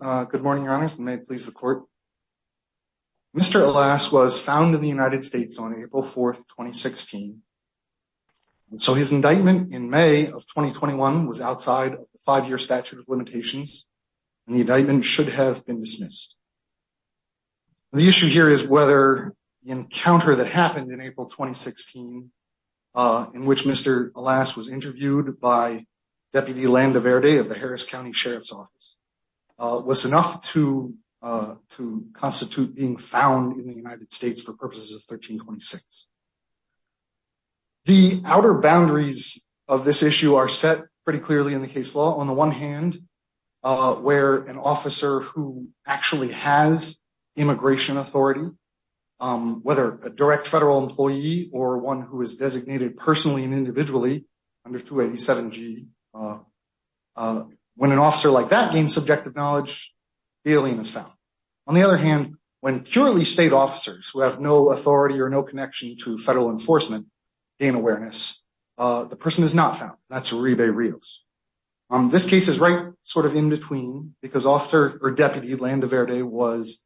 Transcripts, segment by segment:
Good morning, Your Honors, and may it please the Court. Mr. Alas was found in the United States on April 4, 2016, and so his indictment in May of 2021 was outside of the five-year statute of limitations, and the indictment should have been dismissed. The issue here is whether the encounter that happened in April 2016, in which Mr. Alas was interviewed by Deputy Landa Verde of the Harris County Sheriff's Office, was enough to constitute being found in the United States for purposes of 1326. The outer boundaries of this issue are set pretty clearly in the case law. On the one hand, where an officer who actually has immigration authority, whether a direct federal employee or one who is designated personally and individually under 287G, when an officer like that gains subjective knowledge, the alien is found. On the other hand, when purely state officers who have no authority or no connection to federal enforcement gain awareness, the person is not found. That's Uribe Rios. This case is right sort of in between because Officer or Deputy Landa Verde was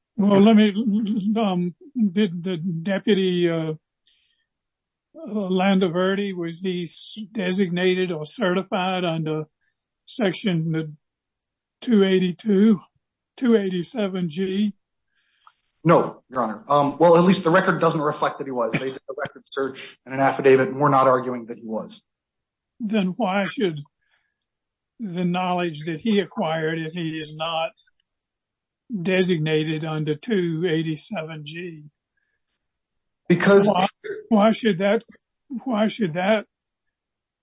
designated or certified under Section 282, 287G? No, Your Honor. Well, at least the record doesn't reflect that he was. They did a record search and an affidavit. We're not arguing that he was. Then why should the knowledge that he acquired if he is not designated under 287G? Why should that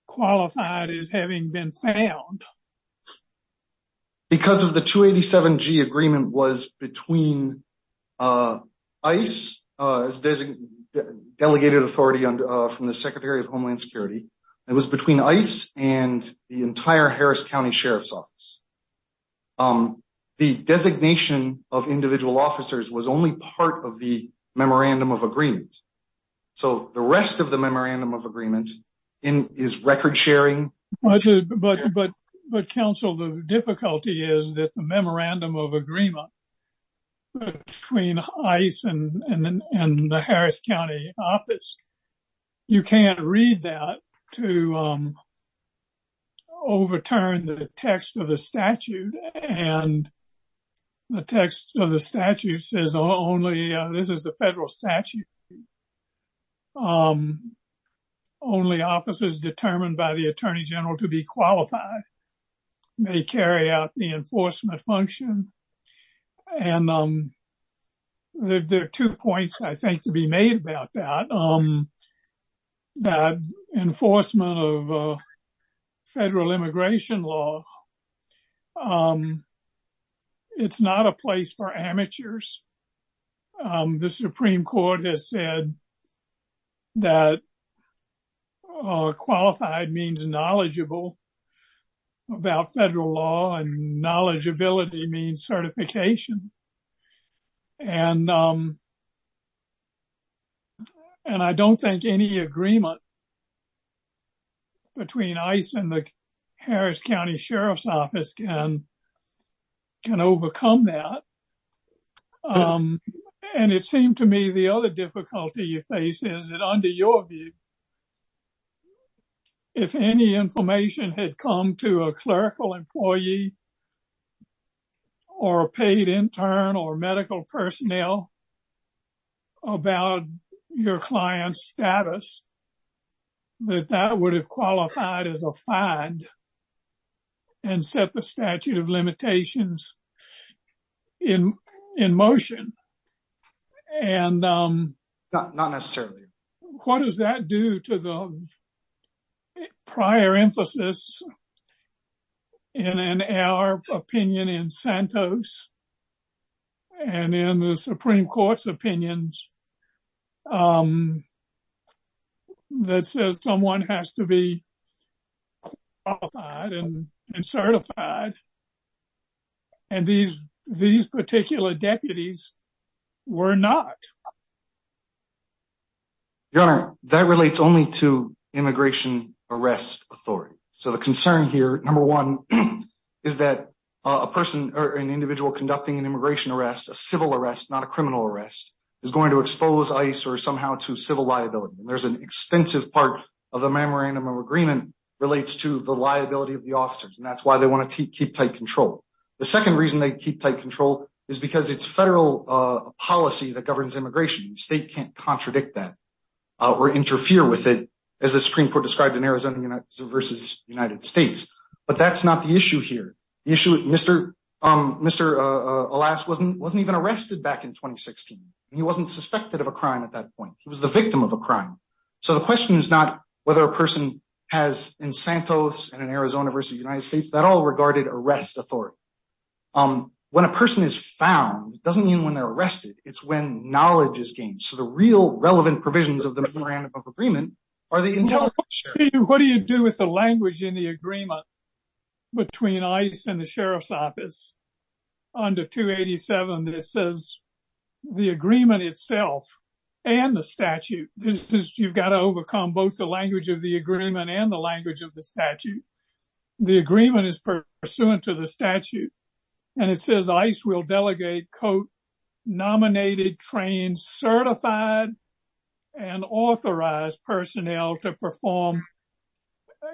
qualify as having been found? Because of the 287G agreement was between ICE, the Delegated Authority from the Secretary of Homeland Security. It was between ICE and the entire Harris County Sheriff's Office. The designation of individual officers was only part of the memorandum of agreement. So the rest of the memorandum of agreement is record-sharing. But, Counsel, the difficulty is that the memorandum of agreement between ICE and the Harris County Office, you can't read that to overturn the text of the statute. The text of the statute says only, this is the federal statute, only officers determined by the Attorney General to be qualified may carry out the enforcement function. There are two points, I think, to be made about that. Enforcement of federal immigration law, it's not a place for amateurs. The Supreme Court has said that qualified means knowledgeable about federal law and knowledgeability means certification. And I don't think any agreement between ICE and the Harris County Sheriff's Office can overcome that. And it seemed to me the other difficulty you face is that under your view, if any information had come to a clerical employee or a paid intern or medical personnel about your client's status, that that would have qualified as a fine and set the statute of limitations in motion. And not necessarily. What does that do to the prior emphasis in our opinion in Santos and in the Supreme Court's opinions that says someone has to be qualified and certified. And these particular deputies were not. Your Honor, that relates only to immigration arrest authority. So the concern here, number one, is that a person or an individual conducting an immigration arrest, a civil arrest, not a criminal arrest, is going to expose ICE or somehow to civil liability. And there's an extensive part of the memorandum of agreement relates to the liability of the officers. And that's why they want to keep tight control. The second reason they keep tight control is because it's federal policy that governs immigration. The state can't contradict that or interfere with it, as the Supreme Court described in Arizona versus United States. But that's not the issue here. The issue, Mr. Alas wasn't even arrested back in 2016. He wasn't suspected of a crime at that point. He was the victim of a crime. So the question is not whether a person has in Santos and in Arizona versus United States, that all regarded arrest authority. When a person is found doesn't mean when they're arrested. It's when knowledge is gained. So the real relevant provisions of the memorandum of agreement are the intelligence. What do you do with the language in the agreement between ICE and the sheriff's department? You've got to overcome both the language of the agreement and the language of the statute. The agreement is pursuant to the statute. And it says ICE will delegate code nominated, trained, certified, and authorized personnel to perform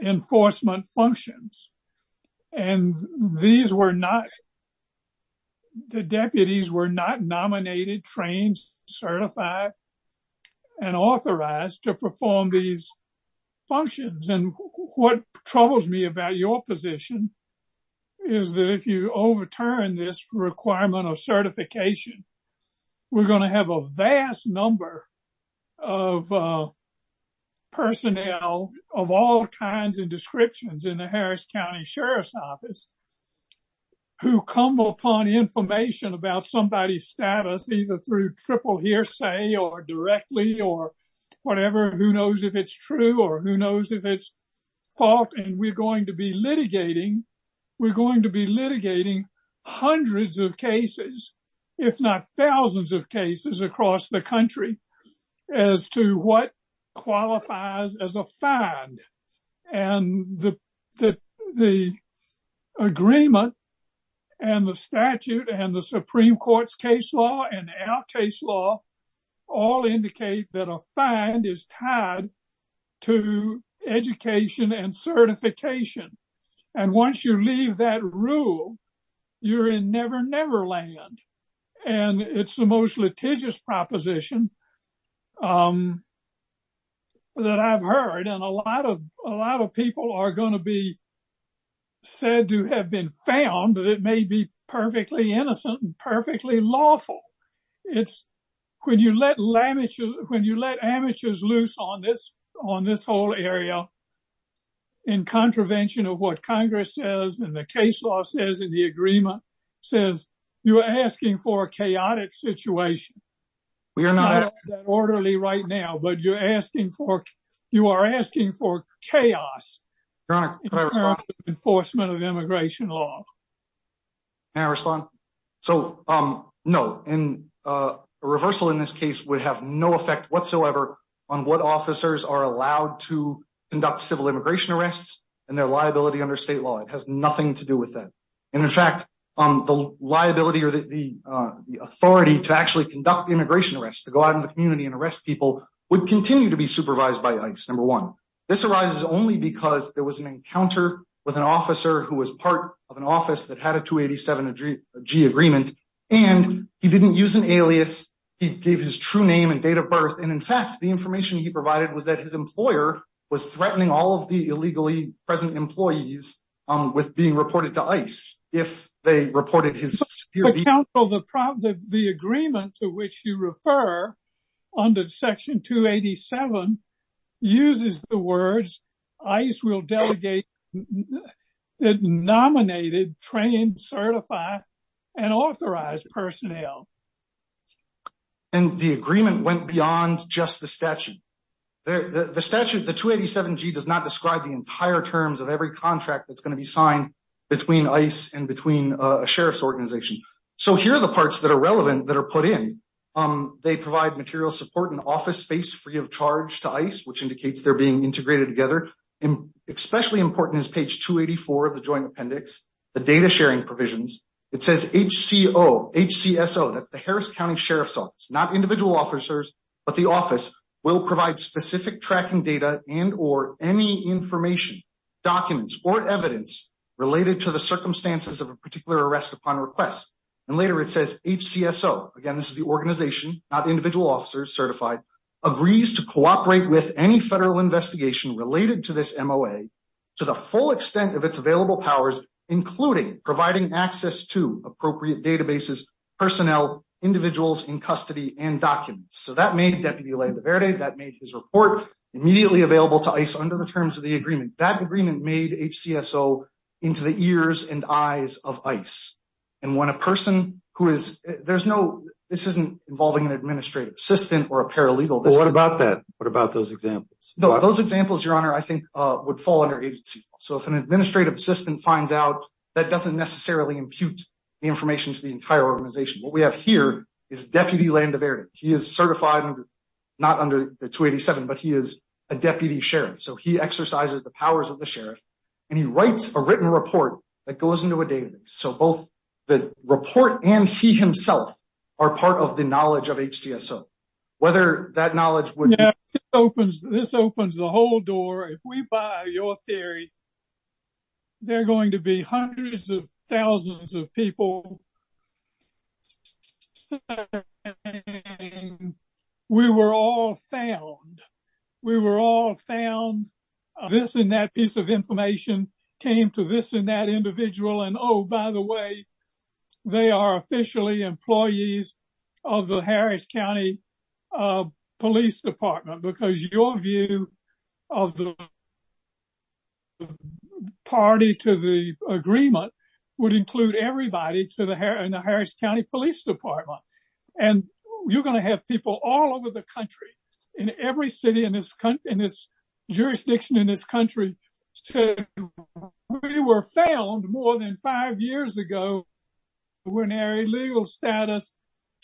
enforcement functions. And the deputies were not nominated, trained, certified, and authorized to perform these functions. And what troubles me about your position is that if you overturn this requirement of certification, we're going to have a vast number of personnel of all kinds and descriptions in the Harris County Sheriff's Office who come upon information about somebody's status, either through triple hearsay or directly or whatever. Who knows if it's true or who knows if it's fault. And we're going to be litigating. We're going to be litigating hundreds of cases, if not thousands of cases across the country as to what qualifies as a find. And the agreement and the statute and the Supreme Court's case law and our case law all indicate that a find is tied to education and certification. And once you leave that rule, you're in Never Never Land. And it's the most litigious proposition that I've heard. And a lot of people are going to be said to have been found that it may be perfectly innocent and perfectly lawful. It's when you let amateurs loose on this whole area in contravention of what Congress says and the case law says in the agreement says you are asking for a chaotic situation. We are not orderly right now, but you're asking for you are asking for chaos enforcement of immigration law. And respond. So, um, no. And a reversal in this case would have no effect whatsoever on what officers are allowed to conduct civil immigration arrests and their liability under state law. It has nothing to do with that. And in fact, um, the liability or the, the, uh, the authority to actually conduct immigration arrests to go out in the community and arrest people would continue to be supervised by ICE. Number one, this arises only because there was an encounter with an officer who was part of an office that had a 287 G agreement, and he didn't use an alias. He gave his true name and date of birth. And in fact, the information he provided was that his employer was threatening all of the illegally present employees, um, with being reported to ice. If they reported his counsel, the problem, the, the agreement to which you refer under section two 87 uses the words ice will delegate that nominated trained, certify and authorized personnel. And the agreement went beyond just the statute. The statute, the 287 G does not describe the entire terms of every contract that's going to be signed between ice and between a sheriff's organization. So here are the parts that are relevant that are put in, um, they provide material support and office space free of charge to ice, which indicates they're being integrated together. And especially important is page 284 of the joint appendix, the data sharing provisions. It says H C O H C S O that's the Harris County Sheriff's office, not individual officers, but the office will provide specific tracking data and, or any information documents or evidence related to the circumstances of a particular arrest upon request. And later it says H C S O again, this is the organization, not individual officers certified agrees to cooperate with any federal investigation related to this MOA to the full extent of its available powers, including providing access to appropriate databases, personnel, individuals in custody and documents. So that made deputy led the Verde that made his report immediately available to ice under the terms of the agreement that agreement made H C S O into the ears and eyes of ice. And when a person who is, there's no, this isn't involving an administrative assistant or a paralegal. What about that? What about those examples? No, those examples, your honor, I think would fall under agency. So if an administrative assistant finds out that doesn't necessarily impute the information to the entire organization, what we have here is deputy land of area. He is certified not under the 287, but he is a deputy sheriff. So he exercises the powers of the sheriff and he writes a written report that goes into a database. So both the report and he himself are part of the knowledge of H C S O. Whether that knowledge opens, this opens the whole door. If we buy your theory, they're going to be hundreds of thousands of people. We were all failed. We were all found this in that piece of information came to this in that individual. And Oh, by the way, they are officially employees of the Harris County Police Department, because your view of the party to the agreement would include everybody to the hair and the Harris County Police Department. And you're going to have people all over the country in every city in this country, in this jurisdiction, in this country. We were found more than five years ago. We're an area legal status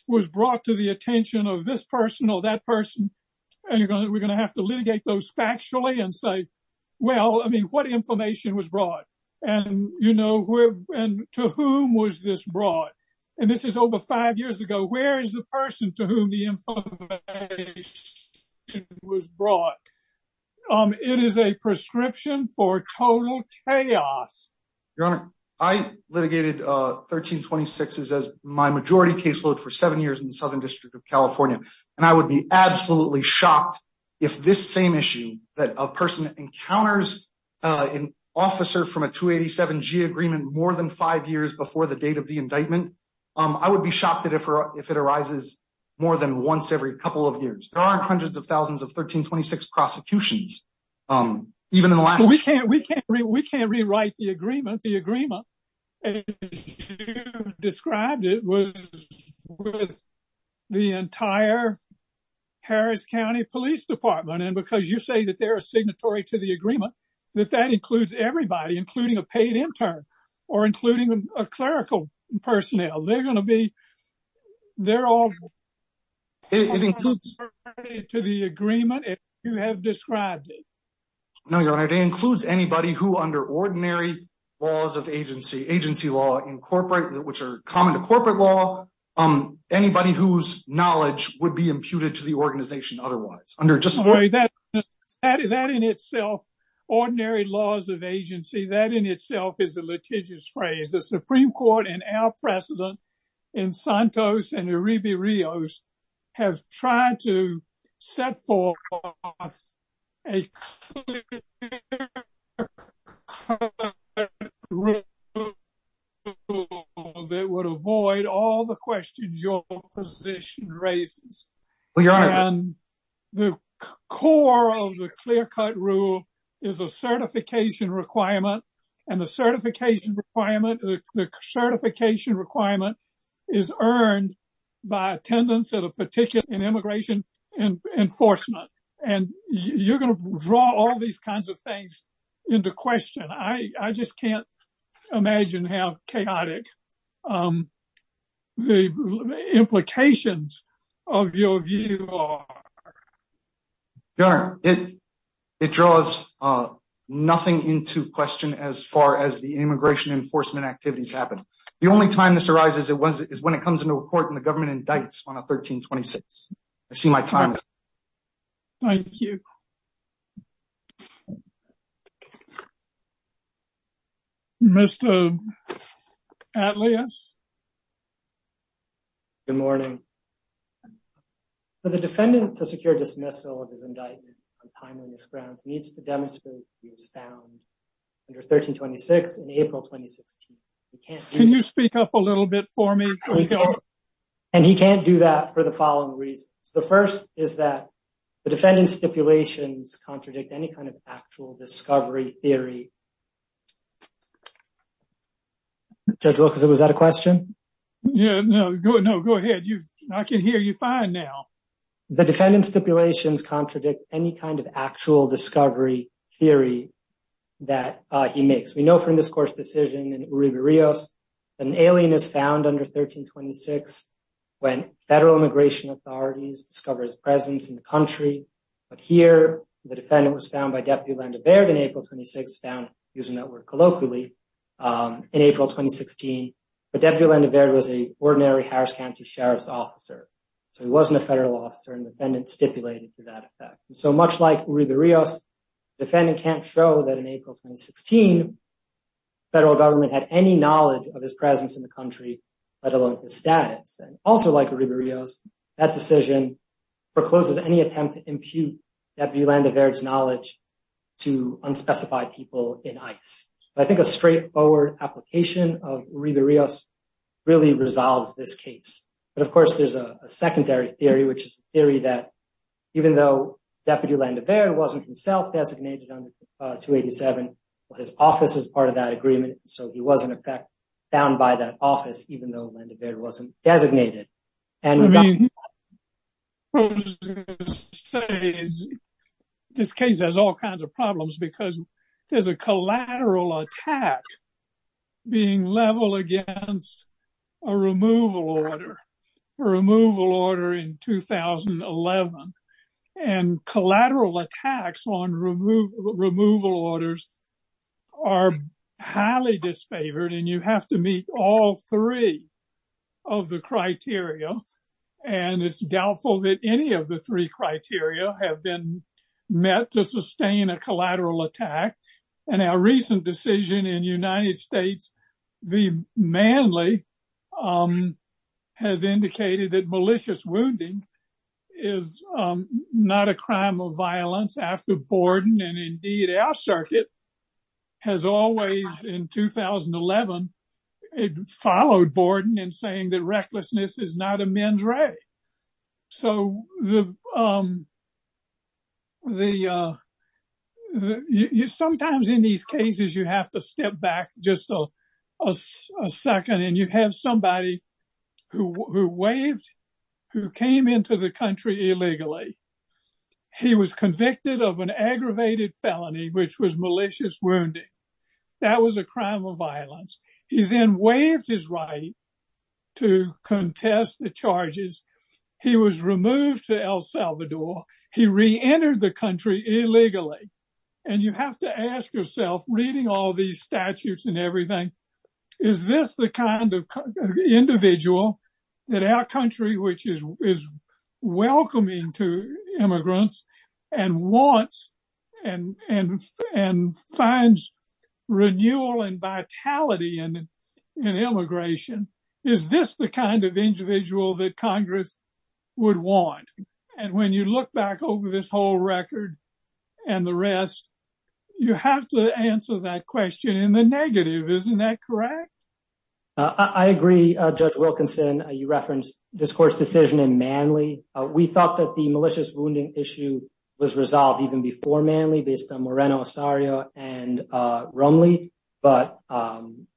was brought to the attention of this personal, that person, and you're going to, we're going to have to litigate those factually and say, well, I mean, what information was brought and, you know, and to whom was this brought? And this is over five years ago. Where is the person to whom the information was brought? Um, it is a prescription for total chaos. Your honor, I litigated, uh, 1326 is as my majority caseload for seven years in the Southern district of California. And I would be absolutely shocked if this same issue that a person encounters, uh, an officer from a two 87 G agreement more than five years before the date of the indictment. Um, I would be shocked at it for, if it arises more than once every couple of years, there aren't hundreds of thousands of 1326 prosecutions. Um, even in the last, we can't rewrite the agreement, the agreement described it with the entire Harris County police department. And because you say that they're a signatory to the agreement, that that includes everybody, including a paid intern or including a clerical personnel. They're going to be, they're all to the agreement. You have described it. It includes anybody who under ordinary laws of agency, agency law incorporate, which are common to corporate law. Um, anybody whose knowledge would be imputed to the organization. Otherwise under just that, that in itself, ordinary laws of agency, that in itself is a litigious phrase. The Supreme court and our precedent in Santos and Arriba Rios have tried to set forth a clear cut rule that would avoid all the questions your position raises. The core of the clear cut rule is a certification requirement. And the certification requirement, is earned by attendance at a particular in immigration and enforcement. And you're going to draw all these kinds of things into question. I just can't imagine how chaotic, um, the implications of your view. It draws, uh, nothing into question as far as the immigration enforcement activities happen. The only time this arises is when it comes into court and the government indicts on a 1326. I see my time. Thank you. Mr. Atlias. Good morning. For the defendant to secure dismissal of his indictment on timeliness grounds needs to be approved on April 26th. Can you speak up a little bit for me? And he can't do that for the following reasons. The first is that the defendant's stipulations contradict any kind of actual discovery theory. Judge Wilkerson, was that a question? Yeah, no, go ahead. I can hear you fine now. The defendant's stipulations contradict any actual discovery theory that he makes. We know from this court's decision in Uribe Rios, an alien is found under 1326 when federal immigration authorities discover his presence in the country. But here, the defendant was found by Deputy Orlando Baird in April 26, found using that word colloquially, um, in April 2016. But Deputy Orlando Baird was an ordinary Harris County Sheriff's officer. So he wasn't a federal officer and the defendant stipulated to that effect. So much like Uribe Rios, the defendant can't show that in April 2016, federal government had any knowledge of his presence in the country, let alone the status. And also like Uribe Rios, that decision forecloses any attempt to impute Deputy Orlando Baird's knowledge to unspecified people in ICE. I think a straightforward application of Uribe Rios really resolves this case. But of course, there's a secondary theory, which is a theory that even though Deputy Orlando Baird wasn't himself designated under 287, his office is part of that agreement. So he was in effect found by that office, even though Orlando Baird wasn't designated. This case has all kinds of problems because there's a collateral attack being level against a removal order, a removal order in 2011. And collateral attacks on removal orders are highly disfavored. And you have to meet all three of the criteria. And it's doubtful that any of the three criteria have been met to sustain a collateral attack. And our recent decision in the United States, the manly has indicated that malicious wounding is not a crime of violence after Borden. And indeed, our circuit has always, in 2011, followed Borden in saying that recklessness is not a men's right. Sometimes in these cases, you have to step back just a second, and you have somebody who came into the country illegally. He was convicted of an aggravated felony, which was malicious wounding. That was a crime of violence. He then waived his right to contest the charges. He was removed to El Salvador. He reentered the country illegally. And you have to ask yourself, reading all these statutes and everything, is this the kind of individual that our country, which is welcoming to immigrants and wants and finds renewal and is this the kind of individual that Congress would want? And when you look back over this whole record and the rest, you have to answer that question in the negative. Isn't that correct? I agree, Judge Wilkinson. You referenced this court's decision in manly. We thought that the malicious wounding issue was resolved even before manly based on Moreno, Osario, and Romley. But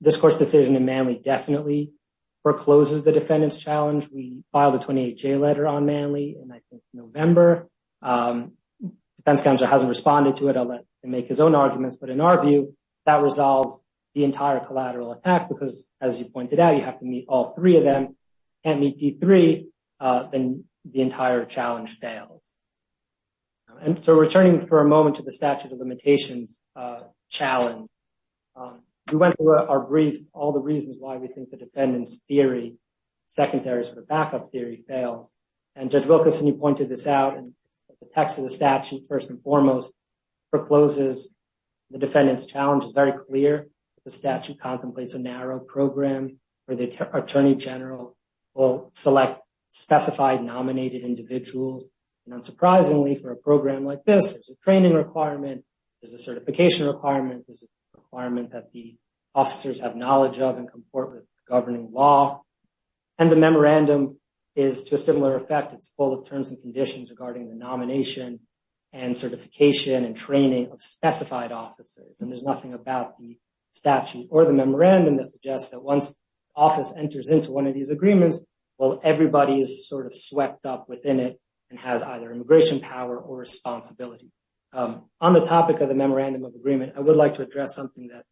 this court's decision in manly definitely forecloses the defendant's challenge. We filed a 28-J letter on manly in, I think, November. The defense counsel hasn't responded to it. I'll make his own arguments. But in our view, that resolves the entire collateral attack because, as you pointed out, you have to meet all three of them. Can't meet D3, then the entire challenge fails. And so returning for a moment to the statute of limitations challenge, we went through our brief, all the reasons why we think the defendant's theory, secondaries for the backup theory, fails. And Judge Wilkinson, you pointed this out in the text of the statute, first and foremost, forecloses the defendant's challenge. It's very clear that the statute contemplates a and unsurprisingly for a program like this, there's a training requirement, there's a certification requirement, there's a requirement that the officers have knowledge of and comport with governing law. And the memorandum is to a similar effect. It's full of terms and conditions regarding the nomination and certification and training of specified officers. And there's nothing about the statute or the memorandum that suggests that once office enters into one of these agreements, well, everybody is sort of swept up within it and has either immigration power or responsibility. On the topic of the memorandum of agreement, I would like to address something that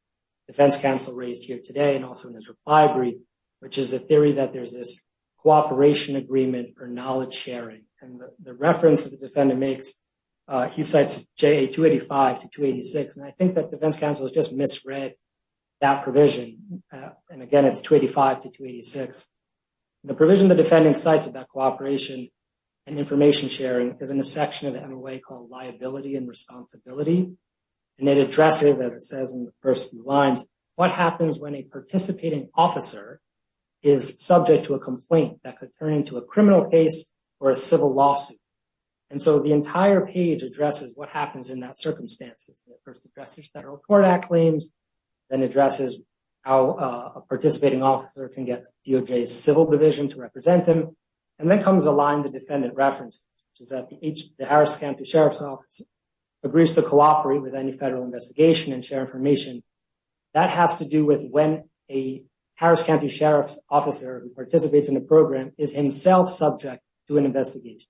defense counsel raised here today and also in his reply brief, which is a theory that there's this cooperation agreement for knowledge sharing. And the reference that the defendant makes, he cites JA 285 to 286. And I think that defense counsel has just misread that provision. And again, it's 285 to 286. The provision the defendant cites about cooperation and information sharing is in a section of the NOA called liability and responsibility. And it addresses, as it says in the first few lines, what happens when a participating officer is subject to a complaint that could turn into a criminal case or a civil lawsuit. And so the entire page addresses what happens in that circumstances. It first addresses federal court act claims, then addresses how a participating officer can get DOJ civil division to represent him. And then comes a line the defendant referenced, which is that the Harris County Sheriff's Office agrees to cooperate with any federal investigation and share information. That has to do with when a Harris County Sheriff's Officer who participates in the program is himself subject to an investigation.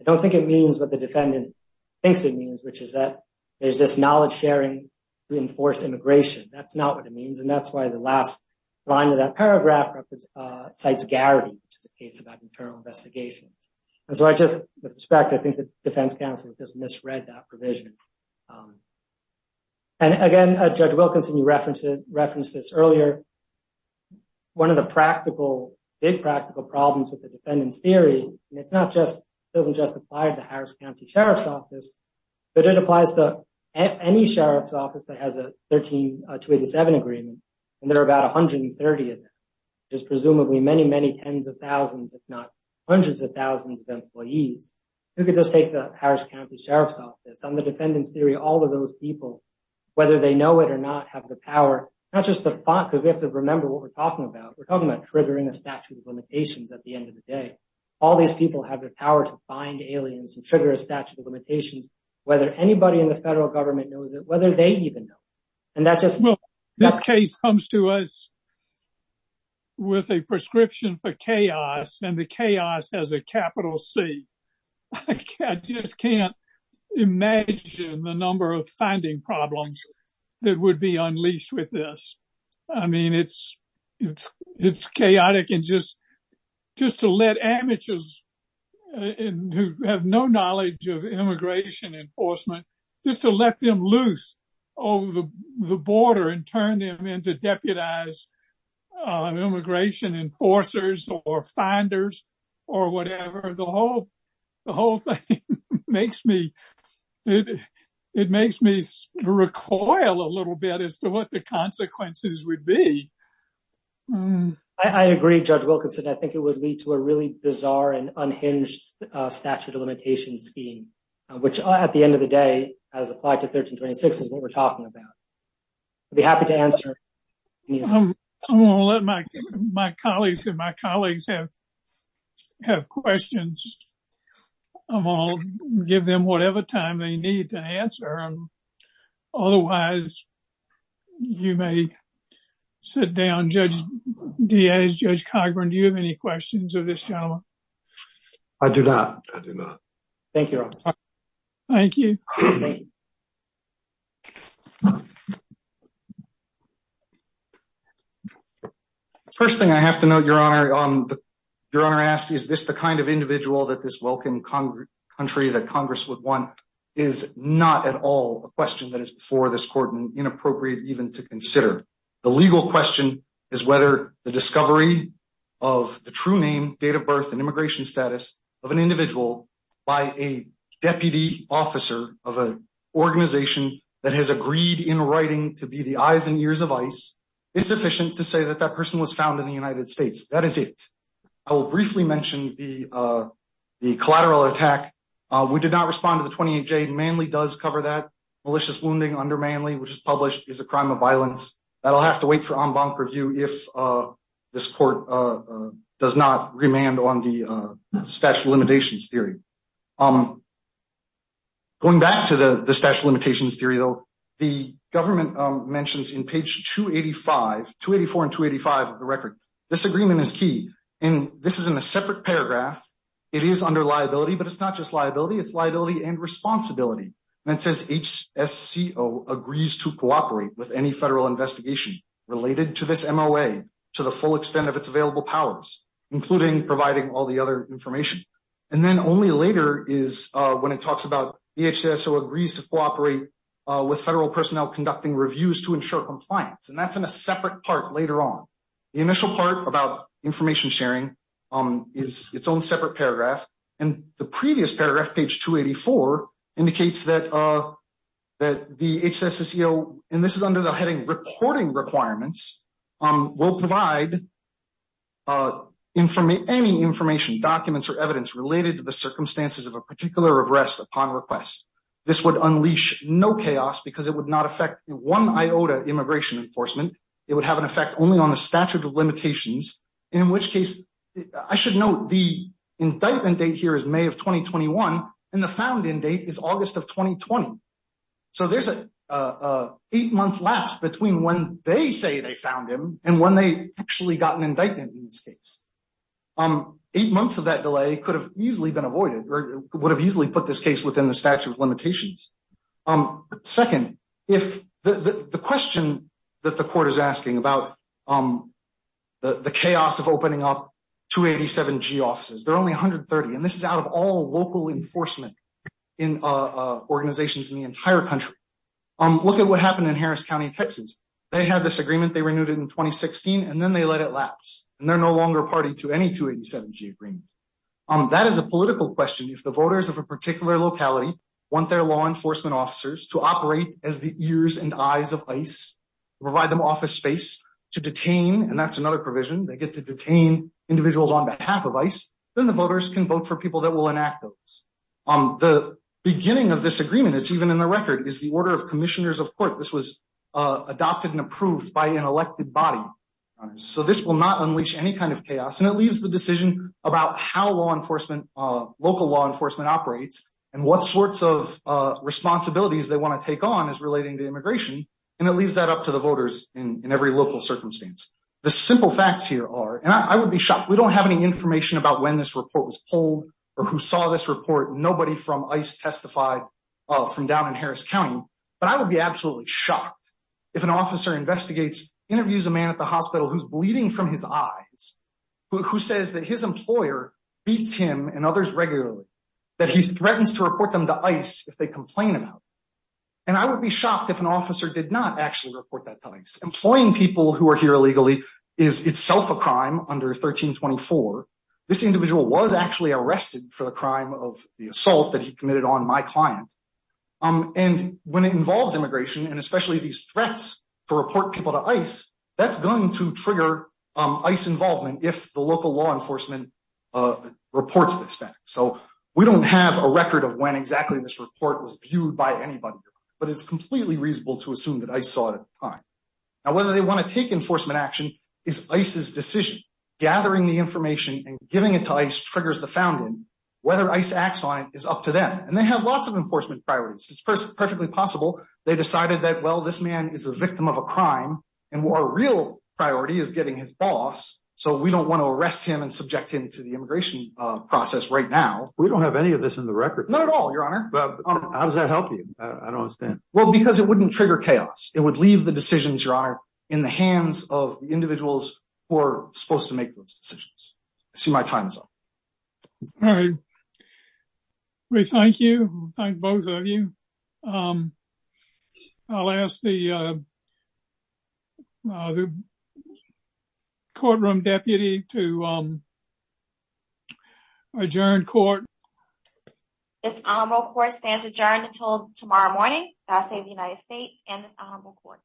I don't think it means what the defendant thinks it means, which is that there's this knowledge sharing to enforce immigration. That's not what it means. That's why the last line of that paragraph cites Garrity, which is a case about internal investigations. And so I just, with respect, I think the defense counsel has just misread that provision. And again, Judge Wilkinson, you referenced this earlier. One of the big practical problems with the defendant's theory, and it doesn't just apply to the Harris County Sheriff's Office that has a 13-287 agreement, and there are about 130 of them, which is presumably many, many tens of thousands, if not hundreds of thousands of employees. You could just take the Harris County Sheriff's Office. On the defendant's theory, all of those people, whether they know it or not, have the power, not just the thought, because we have to remember what we're talking about. We're talking about triggering a statute of limitations at the end of the day. All these people have the power to find aliens and trigger a statute of limitations, whether anybody in the federal government knows it, whether they even know. Well, this case comes to us with a prescription for chaos, and the chaos has a capital C. I just can't imagine the number of finding problems that would be unleashed with this. I mean, it's chaotic. And just to let amateurs who have no knowledge of enforcement, just to let them loose over the border and turn them into deputized immigration enforcers or finders or whatever, the whole thing makes me recoil a little bit as to what the consequences would be. I agree, Judge Wilkinson. I think it would lead to a really bizarre and unhinged statute of limitations scheme, which at the end of the day, as applied to 1326, is what we're talking about. I'd be happy to answer. I'm going to let my colleagues and my colleagues have questions. I'm going to give them whatever time they need to answer. Otherwise, you may sit down. Judge Diaz, Judge Cogburn, do you have any questions of this gentleman? I do not. I do not. Thank you. Thank you. First thing I have to note, Your Honor, Your Honor asked, is this the kind of individual that this welcome country that Congress would want is not at all a question that is before this court inappropriate even to consider. The legal question is whether the discovery of the true name, date of birth, and immigration status of an individual by a deputy officer of an organization that has agreed in writing to be the eyes and ears of ICE is sufficient to say that that person was found in the United States. That is it. I will briefly mention the collateral attack. We did respond to the 28J. Manley does cover that. Malicious wounding under Manley, which is published, is a crime of violence. That will have to wait for en banc review if this court does not remand on the statute of limitations theory. Going back to the statute of limitations theory, the government mentions in page 284 and 285 of the record, this agreement is key. This is in and responsibility. It says HSCO agrees to cooperate with any federal investigation related to this MOA to the full extent of its available powers, including providing all the other information. Then only later is when it talks about HSCO agrees to cooperate with federal personnel conducting reviews to ensure compliance. That is in a separate part later on. The initial part about information sharing is its own separate paragraph. The previous paragraph, page 284, indicates that the HSCO, and this is under the heading reporting requirements, will provide any information, documents, or evidence related to the circumstances of a particular arrest upon request. This would unleash no chaos because it would not affect one iota immigration enforcement. It would have an effect only on the statute of limitations. The found-in date is August of 2020. There is an eight-month lapse between when they say they found him and when they actually got an indictment in this case. Eight months of that delay could have easily been avoided or would have easily put this case within the statute of limitations. Second, the question that the court is asking about the chaos of opening up 287G offices. There are only 130. This is out of all local enforcement organizations in the entire country. Look at what happened in Harris County, Texas. They had this agreement. They renewed it in 2016. Then they let it lapse. They are no longer party to any 287G agreement. That is a political question. If the voters of a particular locality want their law enforcement officers to operate as the ears and eyes of ICE, provide them office space to detain, and that is another then the voters can vote for people that will enact those. The beginning of this agreement, it is even in the record, is the order of commissioners of court. This was adopted and approved by an elected body. This will not unleash any kind of chaos. It leaves the decision about how local law enforcement operates and what sorts of responsibilities they want to take on as relating to immigration. It leaves that up to the voters in every local circumstance. The simple facts here are, and I would be shocked, we do not have any information about when this report was pulled or who saw this report. Nobody from ICE testified from down in Harris County. But I would be absolutely shocked if an officer investigates, interviews a man at the hospital who is bleeding from his eyes, who says that his employer beats him and others regularly, that he threatens to report them to ICE if they complain about it. I would be shocked if an is itself a crime under 1324. This individual was actually arrested for the crime of the assault that he committed on my client. When it involves immigration, and especially these threats to report people to ICE, that is going to trigger ICE involvement if the local law enforcement reports this fact. We do not have a record of when exactly this report was viewed by anybody, but it is completely reasonable to assume that ICE saw it at the time. Now, whether they want to take enforcement action is ICE's decision. Gathering the information and giving it to ICE triggers the founding. Whether ICE acts on it is up to them, and they have lots of enforcement priorities. It's perfectly possible they decided that, well, this man is a victim of a crime, and our real priority is getting his boss, so we do not want to arrest him and subject him to the immigration process right now. We do not have any of this in the record. Not at all, Your Honor. How does that help you? I do not understand. Because it would not trigger chaos. It would leave the decisions, Your Honor, in the hands of the individuals who are supposed to make those decisions. I see my time is up. All right. We thank you. Thank both of you. I will ask the courtroom deputy to adjourn court. This honorable court stands adjourned until tomorrow morning. God save the United States and this honorable court.